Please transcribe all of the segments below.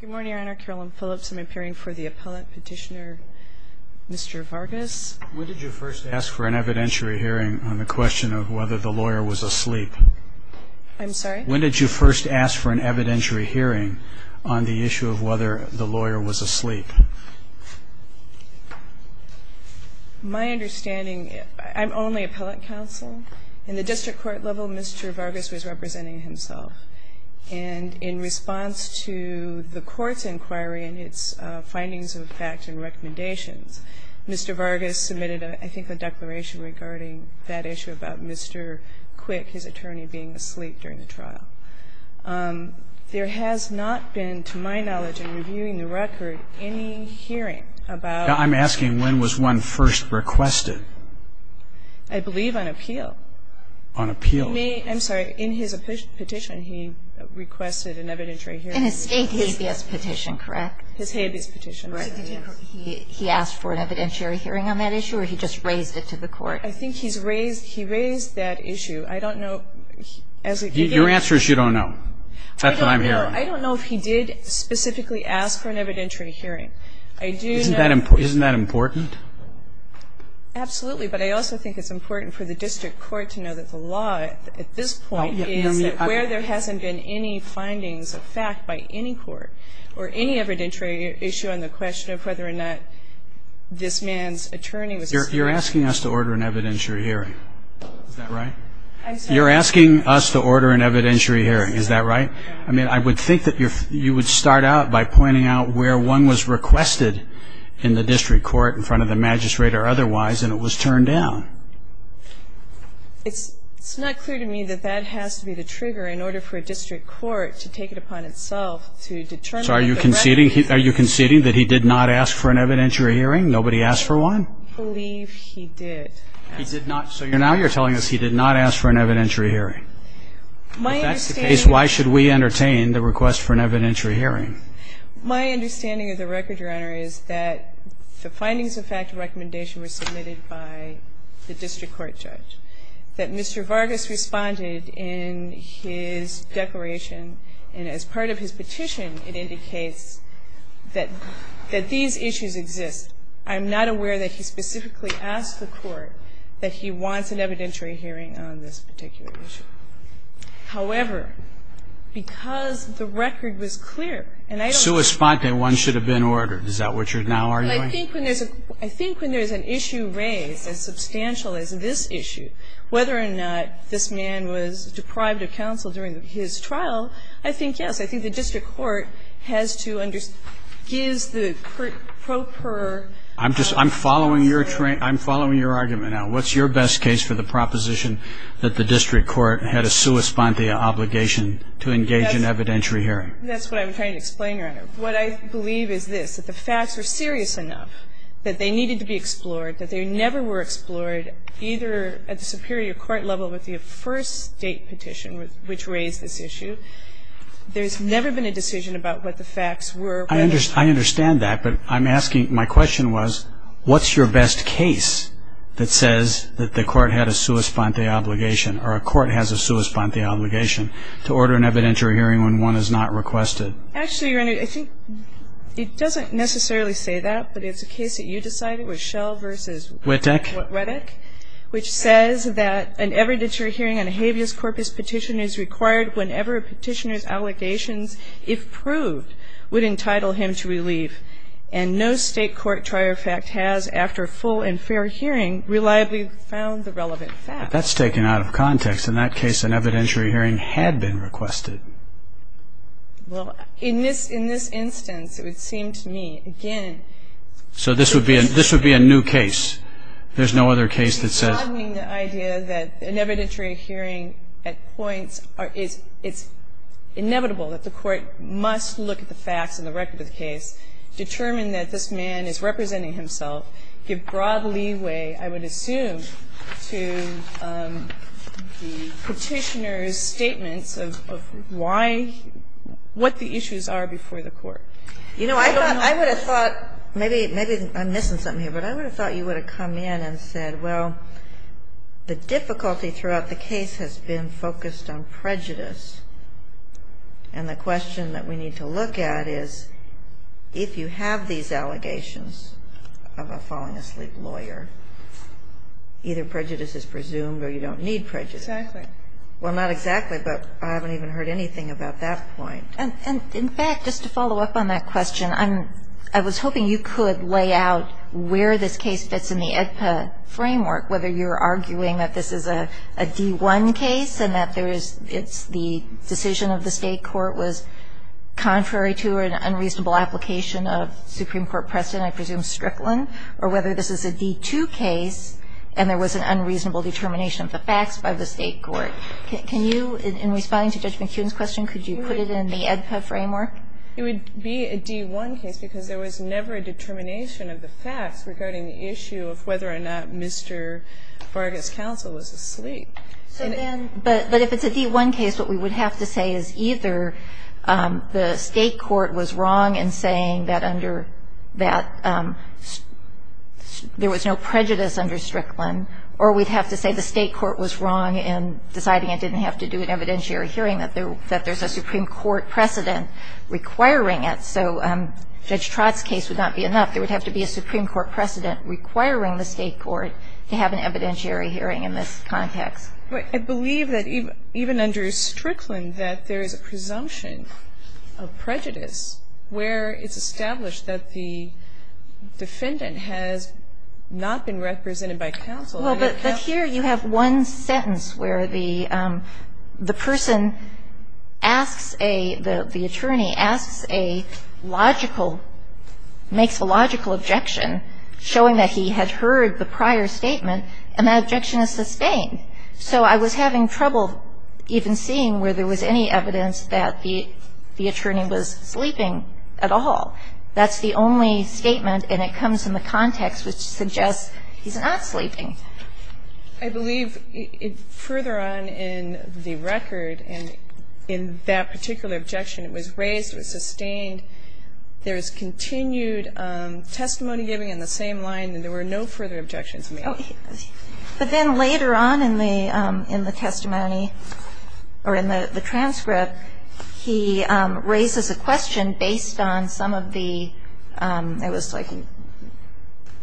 Good morning, Your Honor. Carolyn Phillips. I'm appearing for the appellate petitioner, Mr. Vargas. When did you first ask for an evidentiary hearing on the question of whether the lawyer was asleep? I'm sorry? When did you first ask for an evidentiary hearing on the issue of whether the lawyer was asleep? My understanding, I'm only appellate counsel. In the district court level, Mr. Vargas was representing himself. And in response to the court's inquiry and its findings of facts and recommendations, Mr. Vargas submitted, I think, a declaration regarding that issue about Mr. Quick, his attorney, being asleep during the trial. There has not been, to my knowledge, in reviewing the record, any hearing about the lawyer. I'm asking, when was one first requested? I believe on appeal. On appeal. I'm sorry. In his petition, he requested an evidentiary hearing. In his habeas petition, correct? His habeas petition. Correct. He asked for an evidentiary hearing on that issue, or he just raised it to the court? I think he raised that issue. I don't know. Your answer is you don't know. That's what I'm hearing. I don't know if he did specifically ask for an evidentiary hearing. Isn't that important? Absolutely. But I also think it's important for the district court to know that the law, at this point, is that where there hasn't been any findings of fact by any court or any evidentiary issue on the question of whether or not this man's attorney was asleep. You're asking us to order an evidentiary hearing. Is that right? I'm sorry. You're asking us to order an evidentiary hearing. Is that right? I mean, I would think that you would start out by pointing out where one was requested in the district court in front of the magistrate or otherwise, and it was turned down. It's not clear to me that that has to be the trigger in order for a district court to take it upon itself to determine that the record runner is asleep. So are you conceding that he did not ask for an evidentiary hearing? Nobody asked for one? I believe he did. So now you're telling us he did not ask for an evidentiary hearing. If that's the case, why should we entertain the request for an evidentiary hearing? My understanding of the record runner is that the findings of fact and recommendation were submitted by the district court judge, that Mr. Vargas responded in his declaration, and as part of his petition, it indicates that these issues exist. I'm not aware that he specifically asked the court that he wants an evidentiary hearing on this particular issue. However, because the record was clear, and I don't think that's the case. Sui sponte, one should have been ordered. Is that what you're now arguing? I think when there's an issue raised as substantial as this issue, whether or not this man was deprived of counsel during his trial, I think, yes, I think the district court has to give the pro per. I'm following your argument now. What's your best case for the proposition that the district court had a sui sponte obligation to engage in evidentiary hearing? That's what I'm trying to explain, Your Honor. What I believe is this, that the facts were serious enough, that they needed to be explored, that they never were explored either at the superior court level with the first State petition which raised this issue. There's never been a decision about what the facts were. I understand that, but I'm asking, my question was, what's your best case that says that the court had a sui sponte obligation or a court has a sui sponte obligation to order an evidentiary hearing when one is not requested? Actually, Your Honor, I think it doesn't necessarily say that, but it's a case that you decided with Schell v. Witek, which says that an evidentiary hearing on a habeas corpus petition is required whenever a petitioner's allegations, if proved, would entitle him to relief. And no State court trier fact has, after full and fair hearing, reliably found the relevant facts. But that's taken out of context. In that case, an evidentiary hearing had been requested. Well, in this instance, it would seem to me, again... So this would be a new case. There's no other case that says... It's boggling the idea that an evidentiary hearing at points, it's inevitable that the court must look at the facts and the record of the case, determine that this man is representing himself, give broad leeway, I would assume, to the petitioner's statements of why, what the issues are before the court. You know, I would have thought, maybe I'm missing something here, but I would have thought you would have come in and said, well, the difficulty throughout the case has been focused on prejudice, and the question that we need to look at is, if you have these allegations of a falling-asleep lawyer, either prejudice is presumed or you don't need prejudice. Exactly. Well, not exactly, but I haven't even heard anything about that point. And, in fact, just to follow up on that question, I was hoping you could lay out where this case fits in the AEDPA framework, whether you're arguing that this is a D-1 case and that it's the decision of the State court was contrary to an unreasonable application of Supreme Court precedent, I presume Strickland, or whether this is a D-2 case and there was an unreasonable determination of the facts by the State court. Can you, in responding to Judge McKeon's question, could you put it in the AEDPA framework? It would be a D-1 case because there was never a determination of the facts regarding the issue of whether or not Mr. Vargas' counsel was asleep. But if it's a D-1 case, what we would have to say is either the State court was wrong in saying that there was no prejudice under Strickland, or we'd have to say the State court was wrong in deciding it didn't have to do an evidentiary hearing, that there's a Supreme Court precedent requiring it. So Judge Trott's case would not be enough. There would have to be a Supreme Court precedent requiring the State court to have an evidentiary hearing in this context. But I believe that even under Strickland that there is a presumption of prejudice where it's established that the defendant has not been represented by counsel. Well, but here you have one sentence where the person asks a – the attorney asks a logical – makes a logical objection showing that he had heard the prior statement, and that objection is sustained. So I was having trouble even seeing where there was any evidence that the attorney was sleeping at all. That's the only statement, and it comes in the context which suggests he's not sleeping. I believe further on in the record, and in that particular objection, it was raised, it was sustained, there is continued testimony giving in the same line, and there were no further objections made. But then later on in the testimony, or in the transcript, he raises a question based on some of the – it was like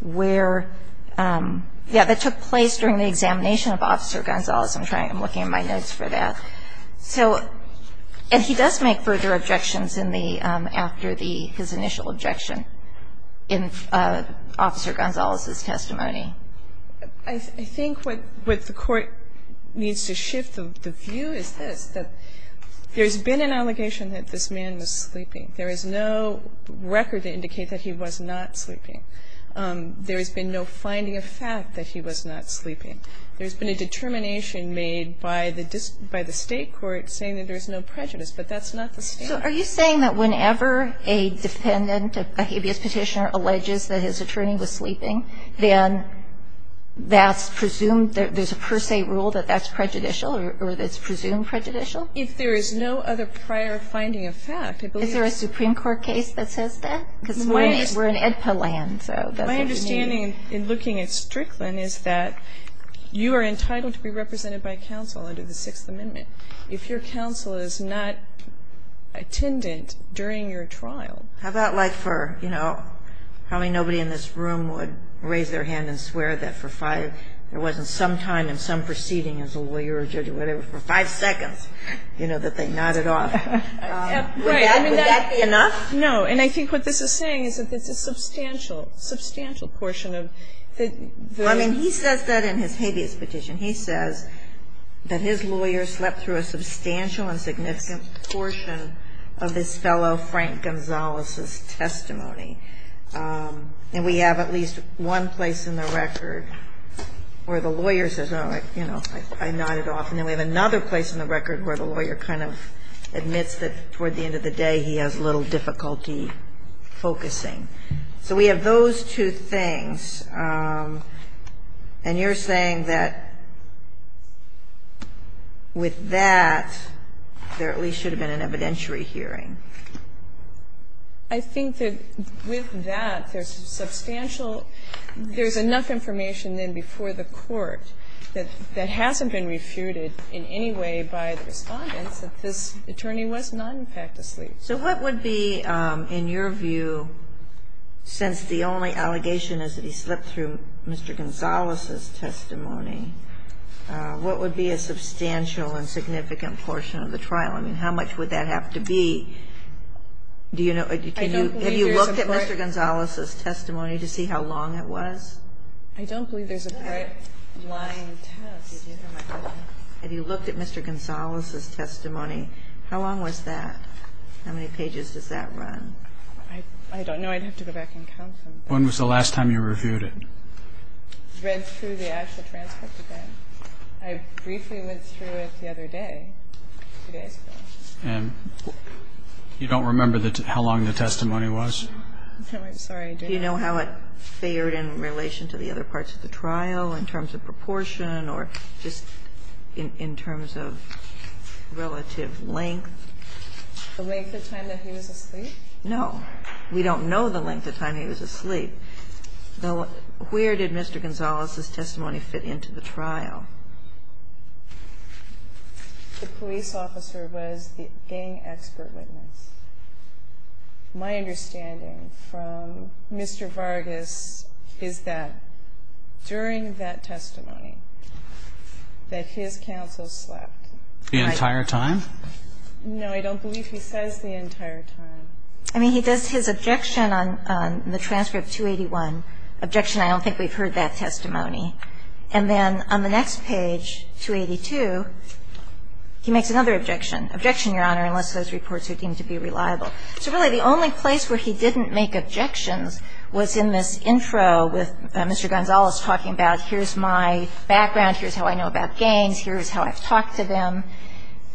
where – yeah, that took place during the examination of Officer Gonzalez. I'm trying – I'm looking at my notes for that. So – and he does make further objections in the – after the – his initial objection in Officer Gonzalez's testimony. I think what the Court needs to shift the view is this, that there's been an allegation that this man was sleeping. There is no record to indicate that he was not sleeping. There has been no finding of fact that he was not sleeping. There's been a determination made by the State court saying that there's no prejudice, but that's not the standard. Kagan. So are you saying that whenever a defendant, a habeas petitioner, alleges that his attorney was sleeping, then that's presumed – there's a per se rule that that's prejudicial, or that's presumed prejudicial? Is there a Supreme Court case that says that? Because we're in IDPA land, so that's what you mean. My understanding in looking at Strickland is that you are entitled to be represented by counsel under the Sixth Amendment. If your counsel is not attendant during your trial – How about like for, you know, probably nobody in this room would raise their hand and swear that for five – there wasn't some time in some proceeding as a lawyer or judge or whatever, for five seconds, you know, that they nodded off. Right. Would that be enough? No. And I think what this is saying is that there's a substantial, substantial portion of the – I mean, he says that in his habeas petition. He says that his lawyer slept through a substantial and significant portion of his fellow Frank Gonzalez's testimony. And we have at least one place in the record where the lawyer says, oh, you know, I nodded off. And then we have another place in the record where the lawyer kind of admits that toward the end of the day he has little difficulty focusing. So we have those two things. And you're saying that with that, there at least should have been an evidentiary hearing. I think that with that, there's substantial – there's enough information then before the court that hasn't been refuted in any way by the Respondents that this attorney was not in fact asleep. So what would be, in your view, since the only allegation is that he slept through Mr. Gonzalez's testimony, what would be a substantial and significant portion of the trial? I mean, how much would that have to be? Do you know? Have you looked at Mr. Gonzalez's testimony to see how long it was? I don't believe there's a break line test. Have you looked at Mr. Gonzalez's testimony? How long was that? How many pages does that run? I don't know. I'd have to go back and count them. When was the last time you reviewed it? I read through the actual transcript again. I briefly went through it the other day, two days ago. And you don't remember how long the testimony was? I'm sorry. Do you know how it fared in relation to the other parts of the trial in terms of proportion or just in terms of relative length? The length of time that he was asleep? No. We don't know the length of time he was asleep. Where did Mr. Gonzalez's testimony fit into the trial? The police officer was the gang expert witness. My understanding from Mr. Vargas is that during that testimony that his counsel slept. The entire time? No, I don't believe he says the entire time. I mean, he does his objection on the transcript, 281, objection, I don't think we've heard that testimony. And then on the next page, 282, he makes another objection. Objection, Your Honor, unless those reports are deemed to be reliable. So really the only place where he didn't make objections was in this intro with Mr. Gonzalez talking about here's my background, here's how I know about gangs, here's how I've talked to them.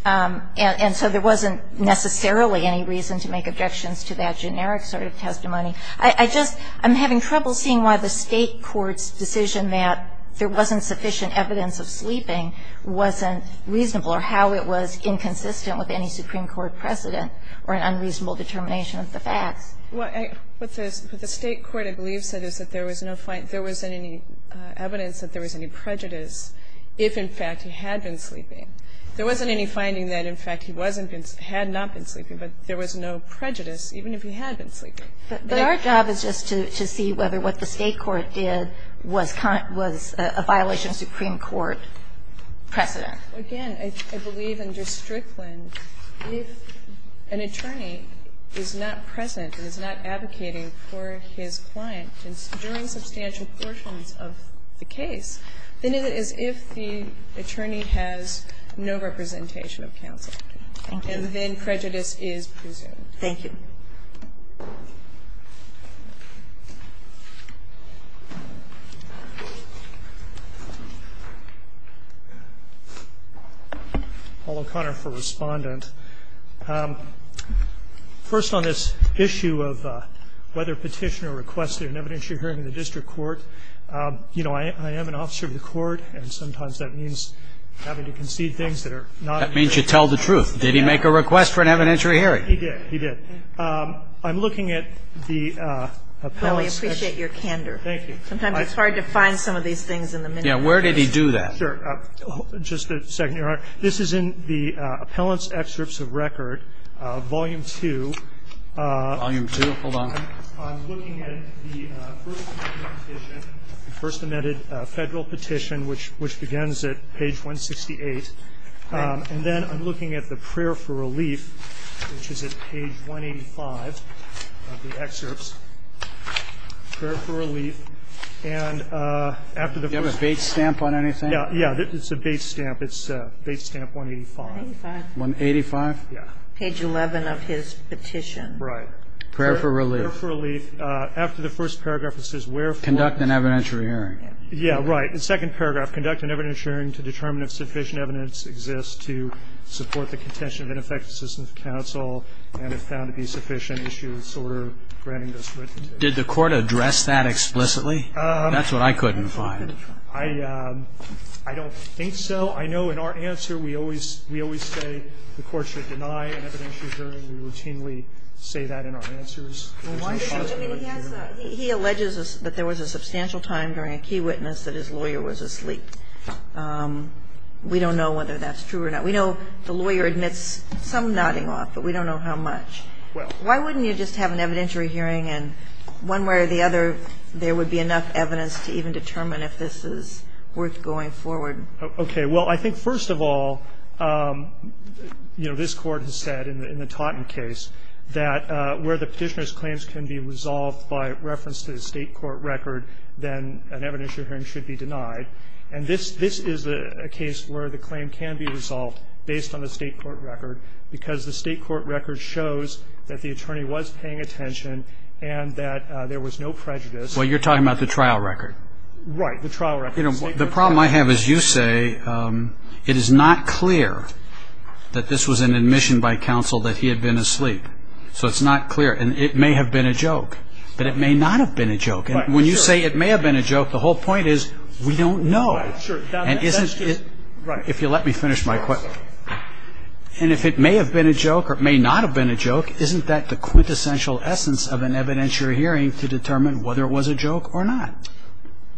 And so there wasn't necessarily any reason to make objections to that generic sort of testimony. I just am having trouble seeing why the State court's decision that there wasn't sufficient evidence of sleeping wasn't reasonable or how it was inconsistent with any Supreme Court precedent or an unreasonable determination of the facts. What the State court, I believe, said is that there was no evidence that there was any prejudice if, in fact, he had been sleeping. There wasn't any finding that, in fact, he had not been sleeping, but there was no prejudice even if he had been sleeping. But our job is just to see whether what the State court did was a violation of Supreme Court precedent. Again, I believe in Districtland, if an attorney is not present and is not advocating for his client during substantial portions of the case, then it is if the attorney has no representation of counsel. Thank you. And then prejudice is presumed. Thank you. Paul O'Connor for Respondent. First on this issue of whether Petitioner requested an evidentiary hearing in the district court, you know, I am an officer of the court, and sometimes that means having to concede things that are not in the district court. That means you tell the truth. Did he make a request for an evidentiary hearing? He did. He did. I'm looking at the appellants' Well, we appreciate your candor. Thank you. Sometimes it's hard to find some of these things in the minutes. Yeah. Where did he do that? Sure. Just a second, Your Honor. This is in the appellants' excerpts of record, volume 2. Volume 2. Hold on. I'm looking at the first petition, the first amended Federal petition, which begins at page 168. And then I'm looking at the prayer for relief, which is at page 185 of the excerpts. Prayer for relief. And after the first Do you have a bait stamp on anything? Yeah. It's a bait stamp. It's bait stamp 185. 185? Yeah. Page 11 of his petition. Right. Prayer for relief. Prayer for relief. After the first paragraph, it says wherefore Conduct an evidentiary hearing. Yeah. Right. In second paragraph, conduct an evidentiary hearing to determine if sufficient evidence exists to support the contention of ineffective systems of counsel and if found to be sufficient, issue this order granting this witness. Did the court address that explicitly? That's what I couldn't find. I don't think so. I know in our answer we always say the court should deny an evidentiary hearing. We routinely say that in our answers. He alleges that there was a substantial time during a key witness that his lawyer was asleep. We don't know whether that's true or not. We know the lawyer admits some nodding off, but we don't know how much. Why wouldn't you just have an evidentiary hearing and one way or the other there would be enough evidence to even determine if this is worth going forward? Okay. Well, I think, first of all, you know, this court has said in the Taunton case that where the petitioner's claims can be resolved by reference to the state court record, then an evidentiary hearing should be denied. And this is a case where the claim can be resolved based on the state court record because the state court record shows that the attorney was paying attention and that there was no prejudice. Well, you're talking about the trial record. Right, the trial record. You know, the problem I have is you say it is not clear that this was an admission by counsel that he had been asleep. So it's not clear. And it may have been a joke, but it may not have been a joke. And when you say it may have been a joke, the whole point is we don't know. And isn't it – if you'll let me finish my question. And if it may have been a joke or it may not have been a joke, isn't that the quintessential essence of an evidentiary hearing to determine whether it was a joke or not?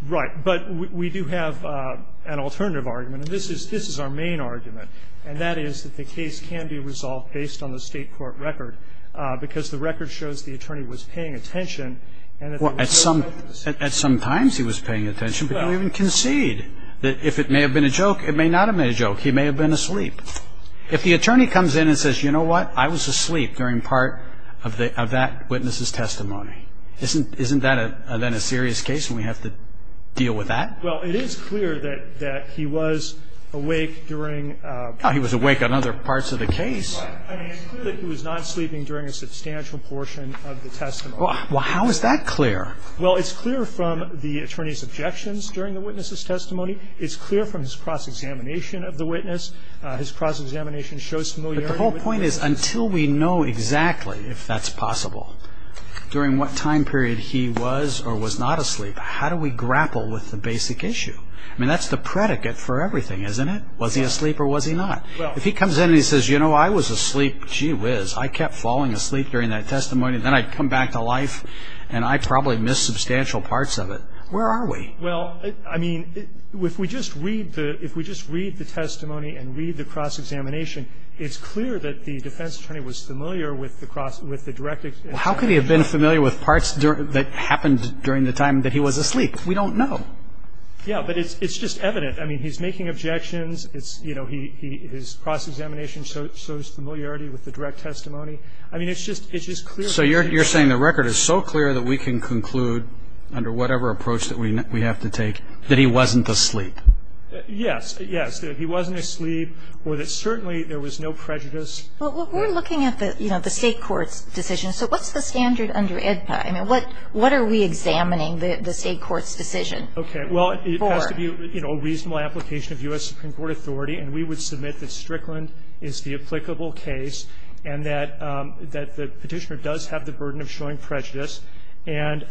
Right. But we do have an alternative argument, and this is our main argument, and that is that the case can be resolved based on the state court record because the record shows the attorney was paying attention and that there was no prejudice. Well, at some times he was paying attention, but you don't even concede that if it may have been a joke, it may not have been a joke. He may have been asleep. If the attorney comes in and says, you know what, I was asleep during part of that witness's testimony, isn't that then a serious case and we have to deal with that? Well, it is clear that he was awake during – He was awake on other parts of the case. I mean, it's clear that he was not sleeping during a substantial portion of the testimony. Well, how is that clear? Well, it's clear from the attorney's objections during the witness's testimony. It's clear from his cross-examination of the witness. His cross-examination shows familiarity with the witness. But the whole point is until we know exactly if that's possible, during what time period he was or was not asleep, how do we grapple with the basic issue? I mean, that's the predicate for everything, isn't it? Was he asleep or was he not? If he comes in and he says, you know, I was asleep, gee whiz, I kept falling asleep during that testimony, then I'd come back to life and I probably missed substantial parts of it, where are we? Well, I mean, if we just read the testimony and read the cross-examination, it's clear that the defense attorney was familiar with the direct – How could he have been familiar with parts that happened during the time that he was asleep? We don't know. Yeah, but it's just evident. I mean, he's making objections. His cross-examination shows familiarity with the direct testimony. I mean, it's just clear. So you're saying the record is so clear that we can conclude, under whatever approach that we have to take, that he wasn't asleep? Yes, yes, that he wasn't asleep or that certainly there was no prejudice. Well, we're looking at the, you know, the state court's decision. So what's the standard under AEDPA? I mean, what are we examining the state court's decision for? Okay, well, it has to be a reasonable application of U.S. Supreme Court authority, and we would submit that Strickland is the applicable case and that the petitioner does have the burden of showing prejudice. And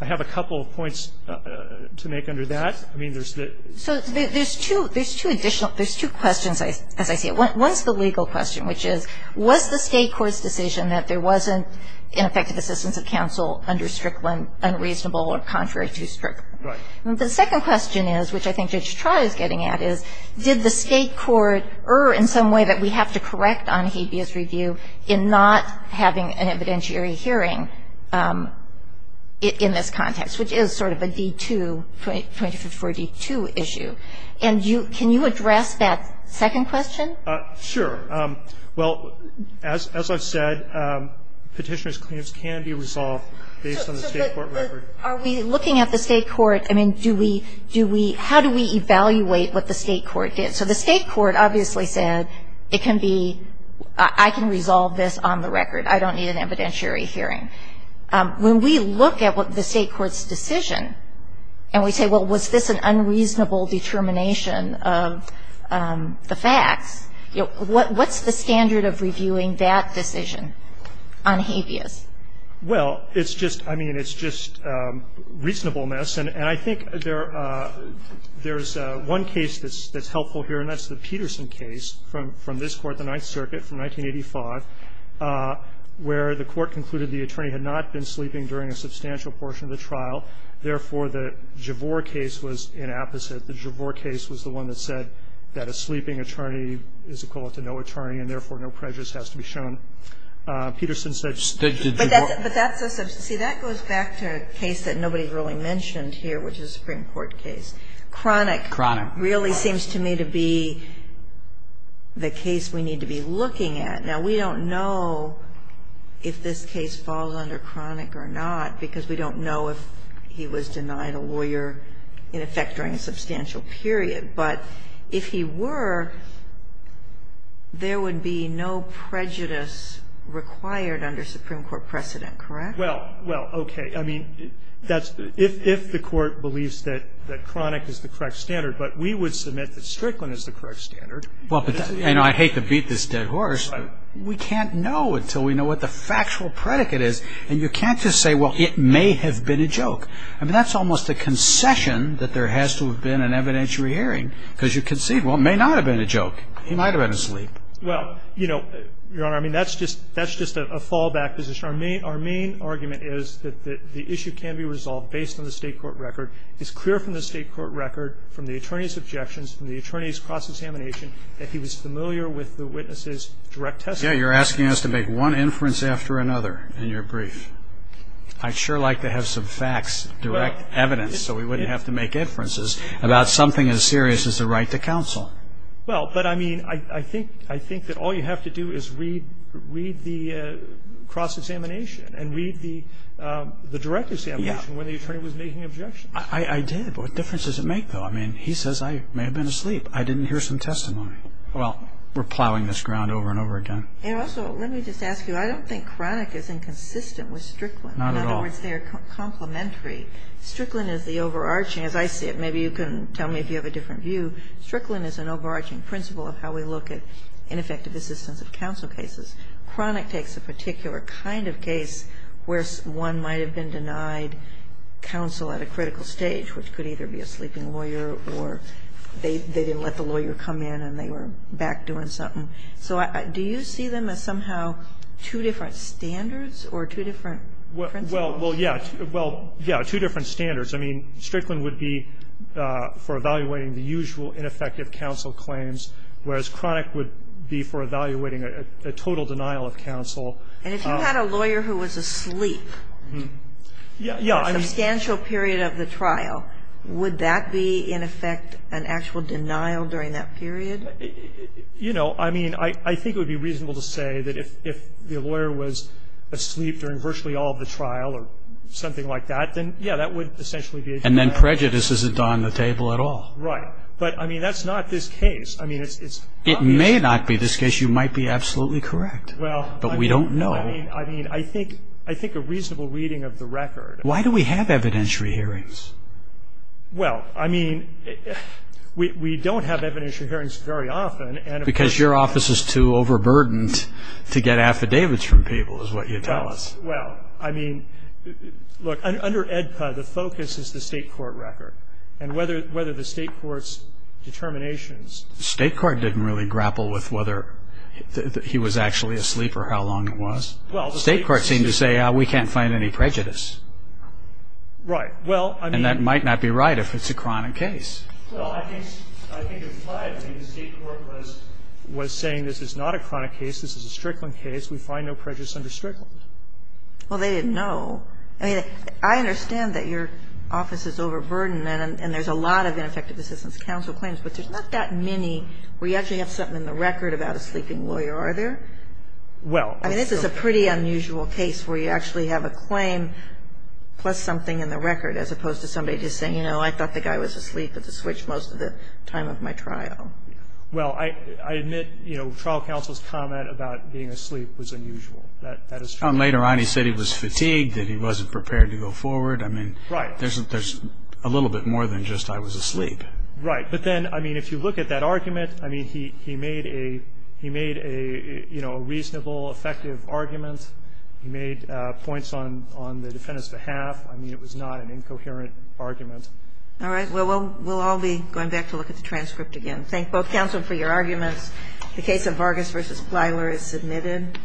I have a couple of points to make under that. I mean, there's the – So there's two additional – there's two questions, as I see it. One is the legal question, which is, was the state court's decision that there wasn't ineffective assistance of counsel under Strickland unreasonable or contrary to Strickland? Right. And the second question is, which I think Judge Trott is getting at, is did the state court err in some way that we have to correct on Hebe's review in not having an evidentiary hearing in this context, which is sort of a D2, 254-D2 issue. And you – can you address that second question? Sure. Well, as I said, petitioner's claims can be resolved based on the state court record. Are we looking at the state court – I mean, do we – do we – how do we evaluate what the state court did? So the state court obviously said it can be – I can resolve this on the record. I don't need an evidentiary hearing. When we look at the state court's decision and we say, well, was this an unreasonable determination of the facts, what's the standard of reviewing that decision on Hebe's? Well, it's just – I mean, it's just reasonableness. And I think there's one case that's helpful here, and that's the Peterson case from this court, the Ninth Circuit, from 1985, where the court concluded the attorney had not been sleeping during a substantial portion of the trial. Therefore, the Javor case was an opposite. The Javor case was the one that said that a sleeping attorney is equal to no attorney, and therefore, no prejudice has to be shown. Peterson said – But that's a – see, that goes back to a case that nobody really mentioned here, which is a Supreme Court case. Chronic really seems to me to be the case we need to be looking at. Now, we don't know if this case falls under chronic or not because we don't know if he was denied a lawyer in effect during a substantial period. But if he were, there would be no prejudice required under Supreme Court precedent, correct? Well, okay. I mean, that's – if the court believes that chronic is the correct standard, but we would submit that Strickland is the correct standard. Well, but – and I hate to beat this dead horse, but we can't know until we know what the factual predicate is. And you can't just say, well, it may have been a joke. I mean, that's almost a concession that there has to have been an evidentiary hearing because you concede, well, it may not have been a joke. He might have been asleep. Well, you know, Your Honor, I mean, that's just a fallback position. Our main argument is that the issue can be resolved based on the state court record. It's clear from the state court record, from the attorney's objections, from the attorney's cross-examination, that he was familiar with the witness's direct testimony. Yeah, you're asking us to make one inference after another in your brief. I'd sure like to have some facts, direct evidence, so we wouldn't have to make inferences about something as serious as the right to counsel. Well, but, I mean, I think that all you have to do is read the cross-examination and read the direct examination when the attorney was making objections. I did. But what difference does it make, though? I mean, he says I may have been asleep. I didn't hear some testimony. Well, we're plowing this ground over and over again. And also, let me just ask you, I don't think Cronic is inconsistent with Strickland. Not at all. In other words, they are complementary. Strickland is the overarching, as I see it. Maybe you can tell me if you have a different view. Strickland is an overarching principle of how we look at ineffective assistance of counsel cases. Cronic takes a particular kind of case where one might have been denied counsel at a critical stage, which could either be a sleeping lawyer or they didn't let the lawyer come in and they were back doing something. So do you see them as somehow two different standards or two different principles? Well, yes. Well, yes, two different standards. I mean, Strickland would be for evaluating the usual ineffective counsel claims, whereas Cronic would be for evaluating a total denial of counsel. And if you had a lawyer who was asleep for a substantial period of the trial, would that be, in effect, an actual denial during that period? You know, I mean, I think it would be reasonable to say that if the lawyer was asleep during virtually all of the trial or something like that, then, yeah, that would essentially be a denial. And then prejudice isn't on the table at all. Right. But, I mean, that's not this case. I mean, it's obvious. It may not be this case. You might be absolutely correct. Well, I mean. But we don't know. I mean, I think a reasonable reading of the record. Why do we have evidentiary hearings? Well, I mean, we don't have evidentiary hearings very often. Because your office is too overburdened to get affidavits from people, is what you tell us. Well, I mean, look, under AEDPA, the focus is the state court record. And whether the state court's determinations. The state court didn't really grapple with whether he was actually asleep or how long it was. State courts seem to say we can't find any prejudice. Right. Well, I mean. And that might not be right if it's a chronic case. Well, I think it's right. I mean, the state court was saying this is not a chronic case. This is a Strickland case. We find no prejudice under Strickland. Well, they didn't know. I mean, I understand that your office is overburdened. And there's a lot of ineffective assistance counsel claims. But there's not that many where you actually have something in the record about a sleeping lawyer, are there? Well. I mean, this is a pretty unusual case where you actually have a claim plus something in the record as opposed to somebody just saying, you know, I thought the guy was asleep at the switch most of the time of my trial. Well, I admit, you know, trial counsel's comment about being asleep was unusual. That is true. Later on he said he was fatigued, that he wasn't prepared to go forward. I mean. Right. There's a little bit more than just I was asleep. Right. But then, I mean, if you look at that argument, I mean, he made a reasonable effective argument. He made points on the defendant's behalf. I mean, it was not an incoherent argument. All right. Well, we'll all be going back to look at the transcript again. Thank both counsel for your arguments. The case of Vargas v. Plyler is submitted.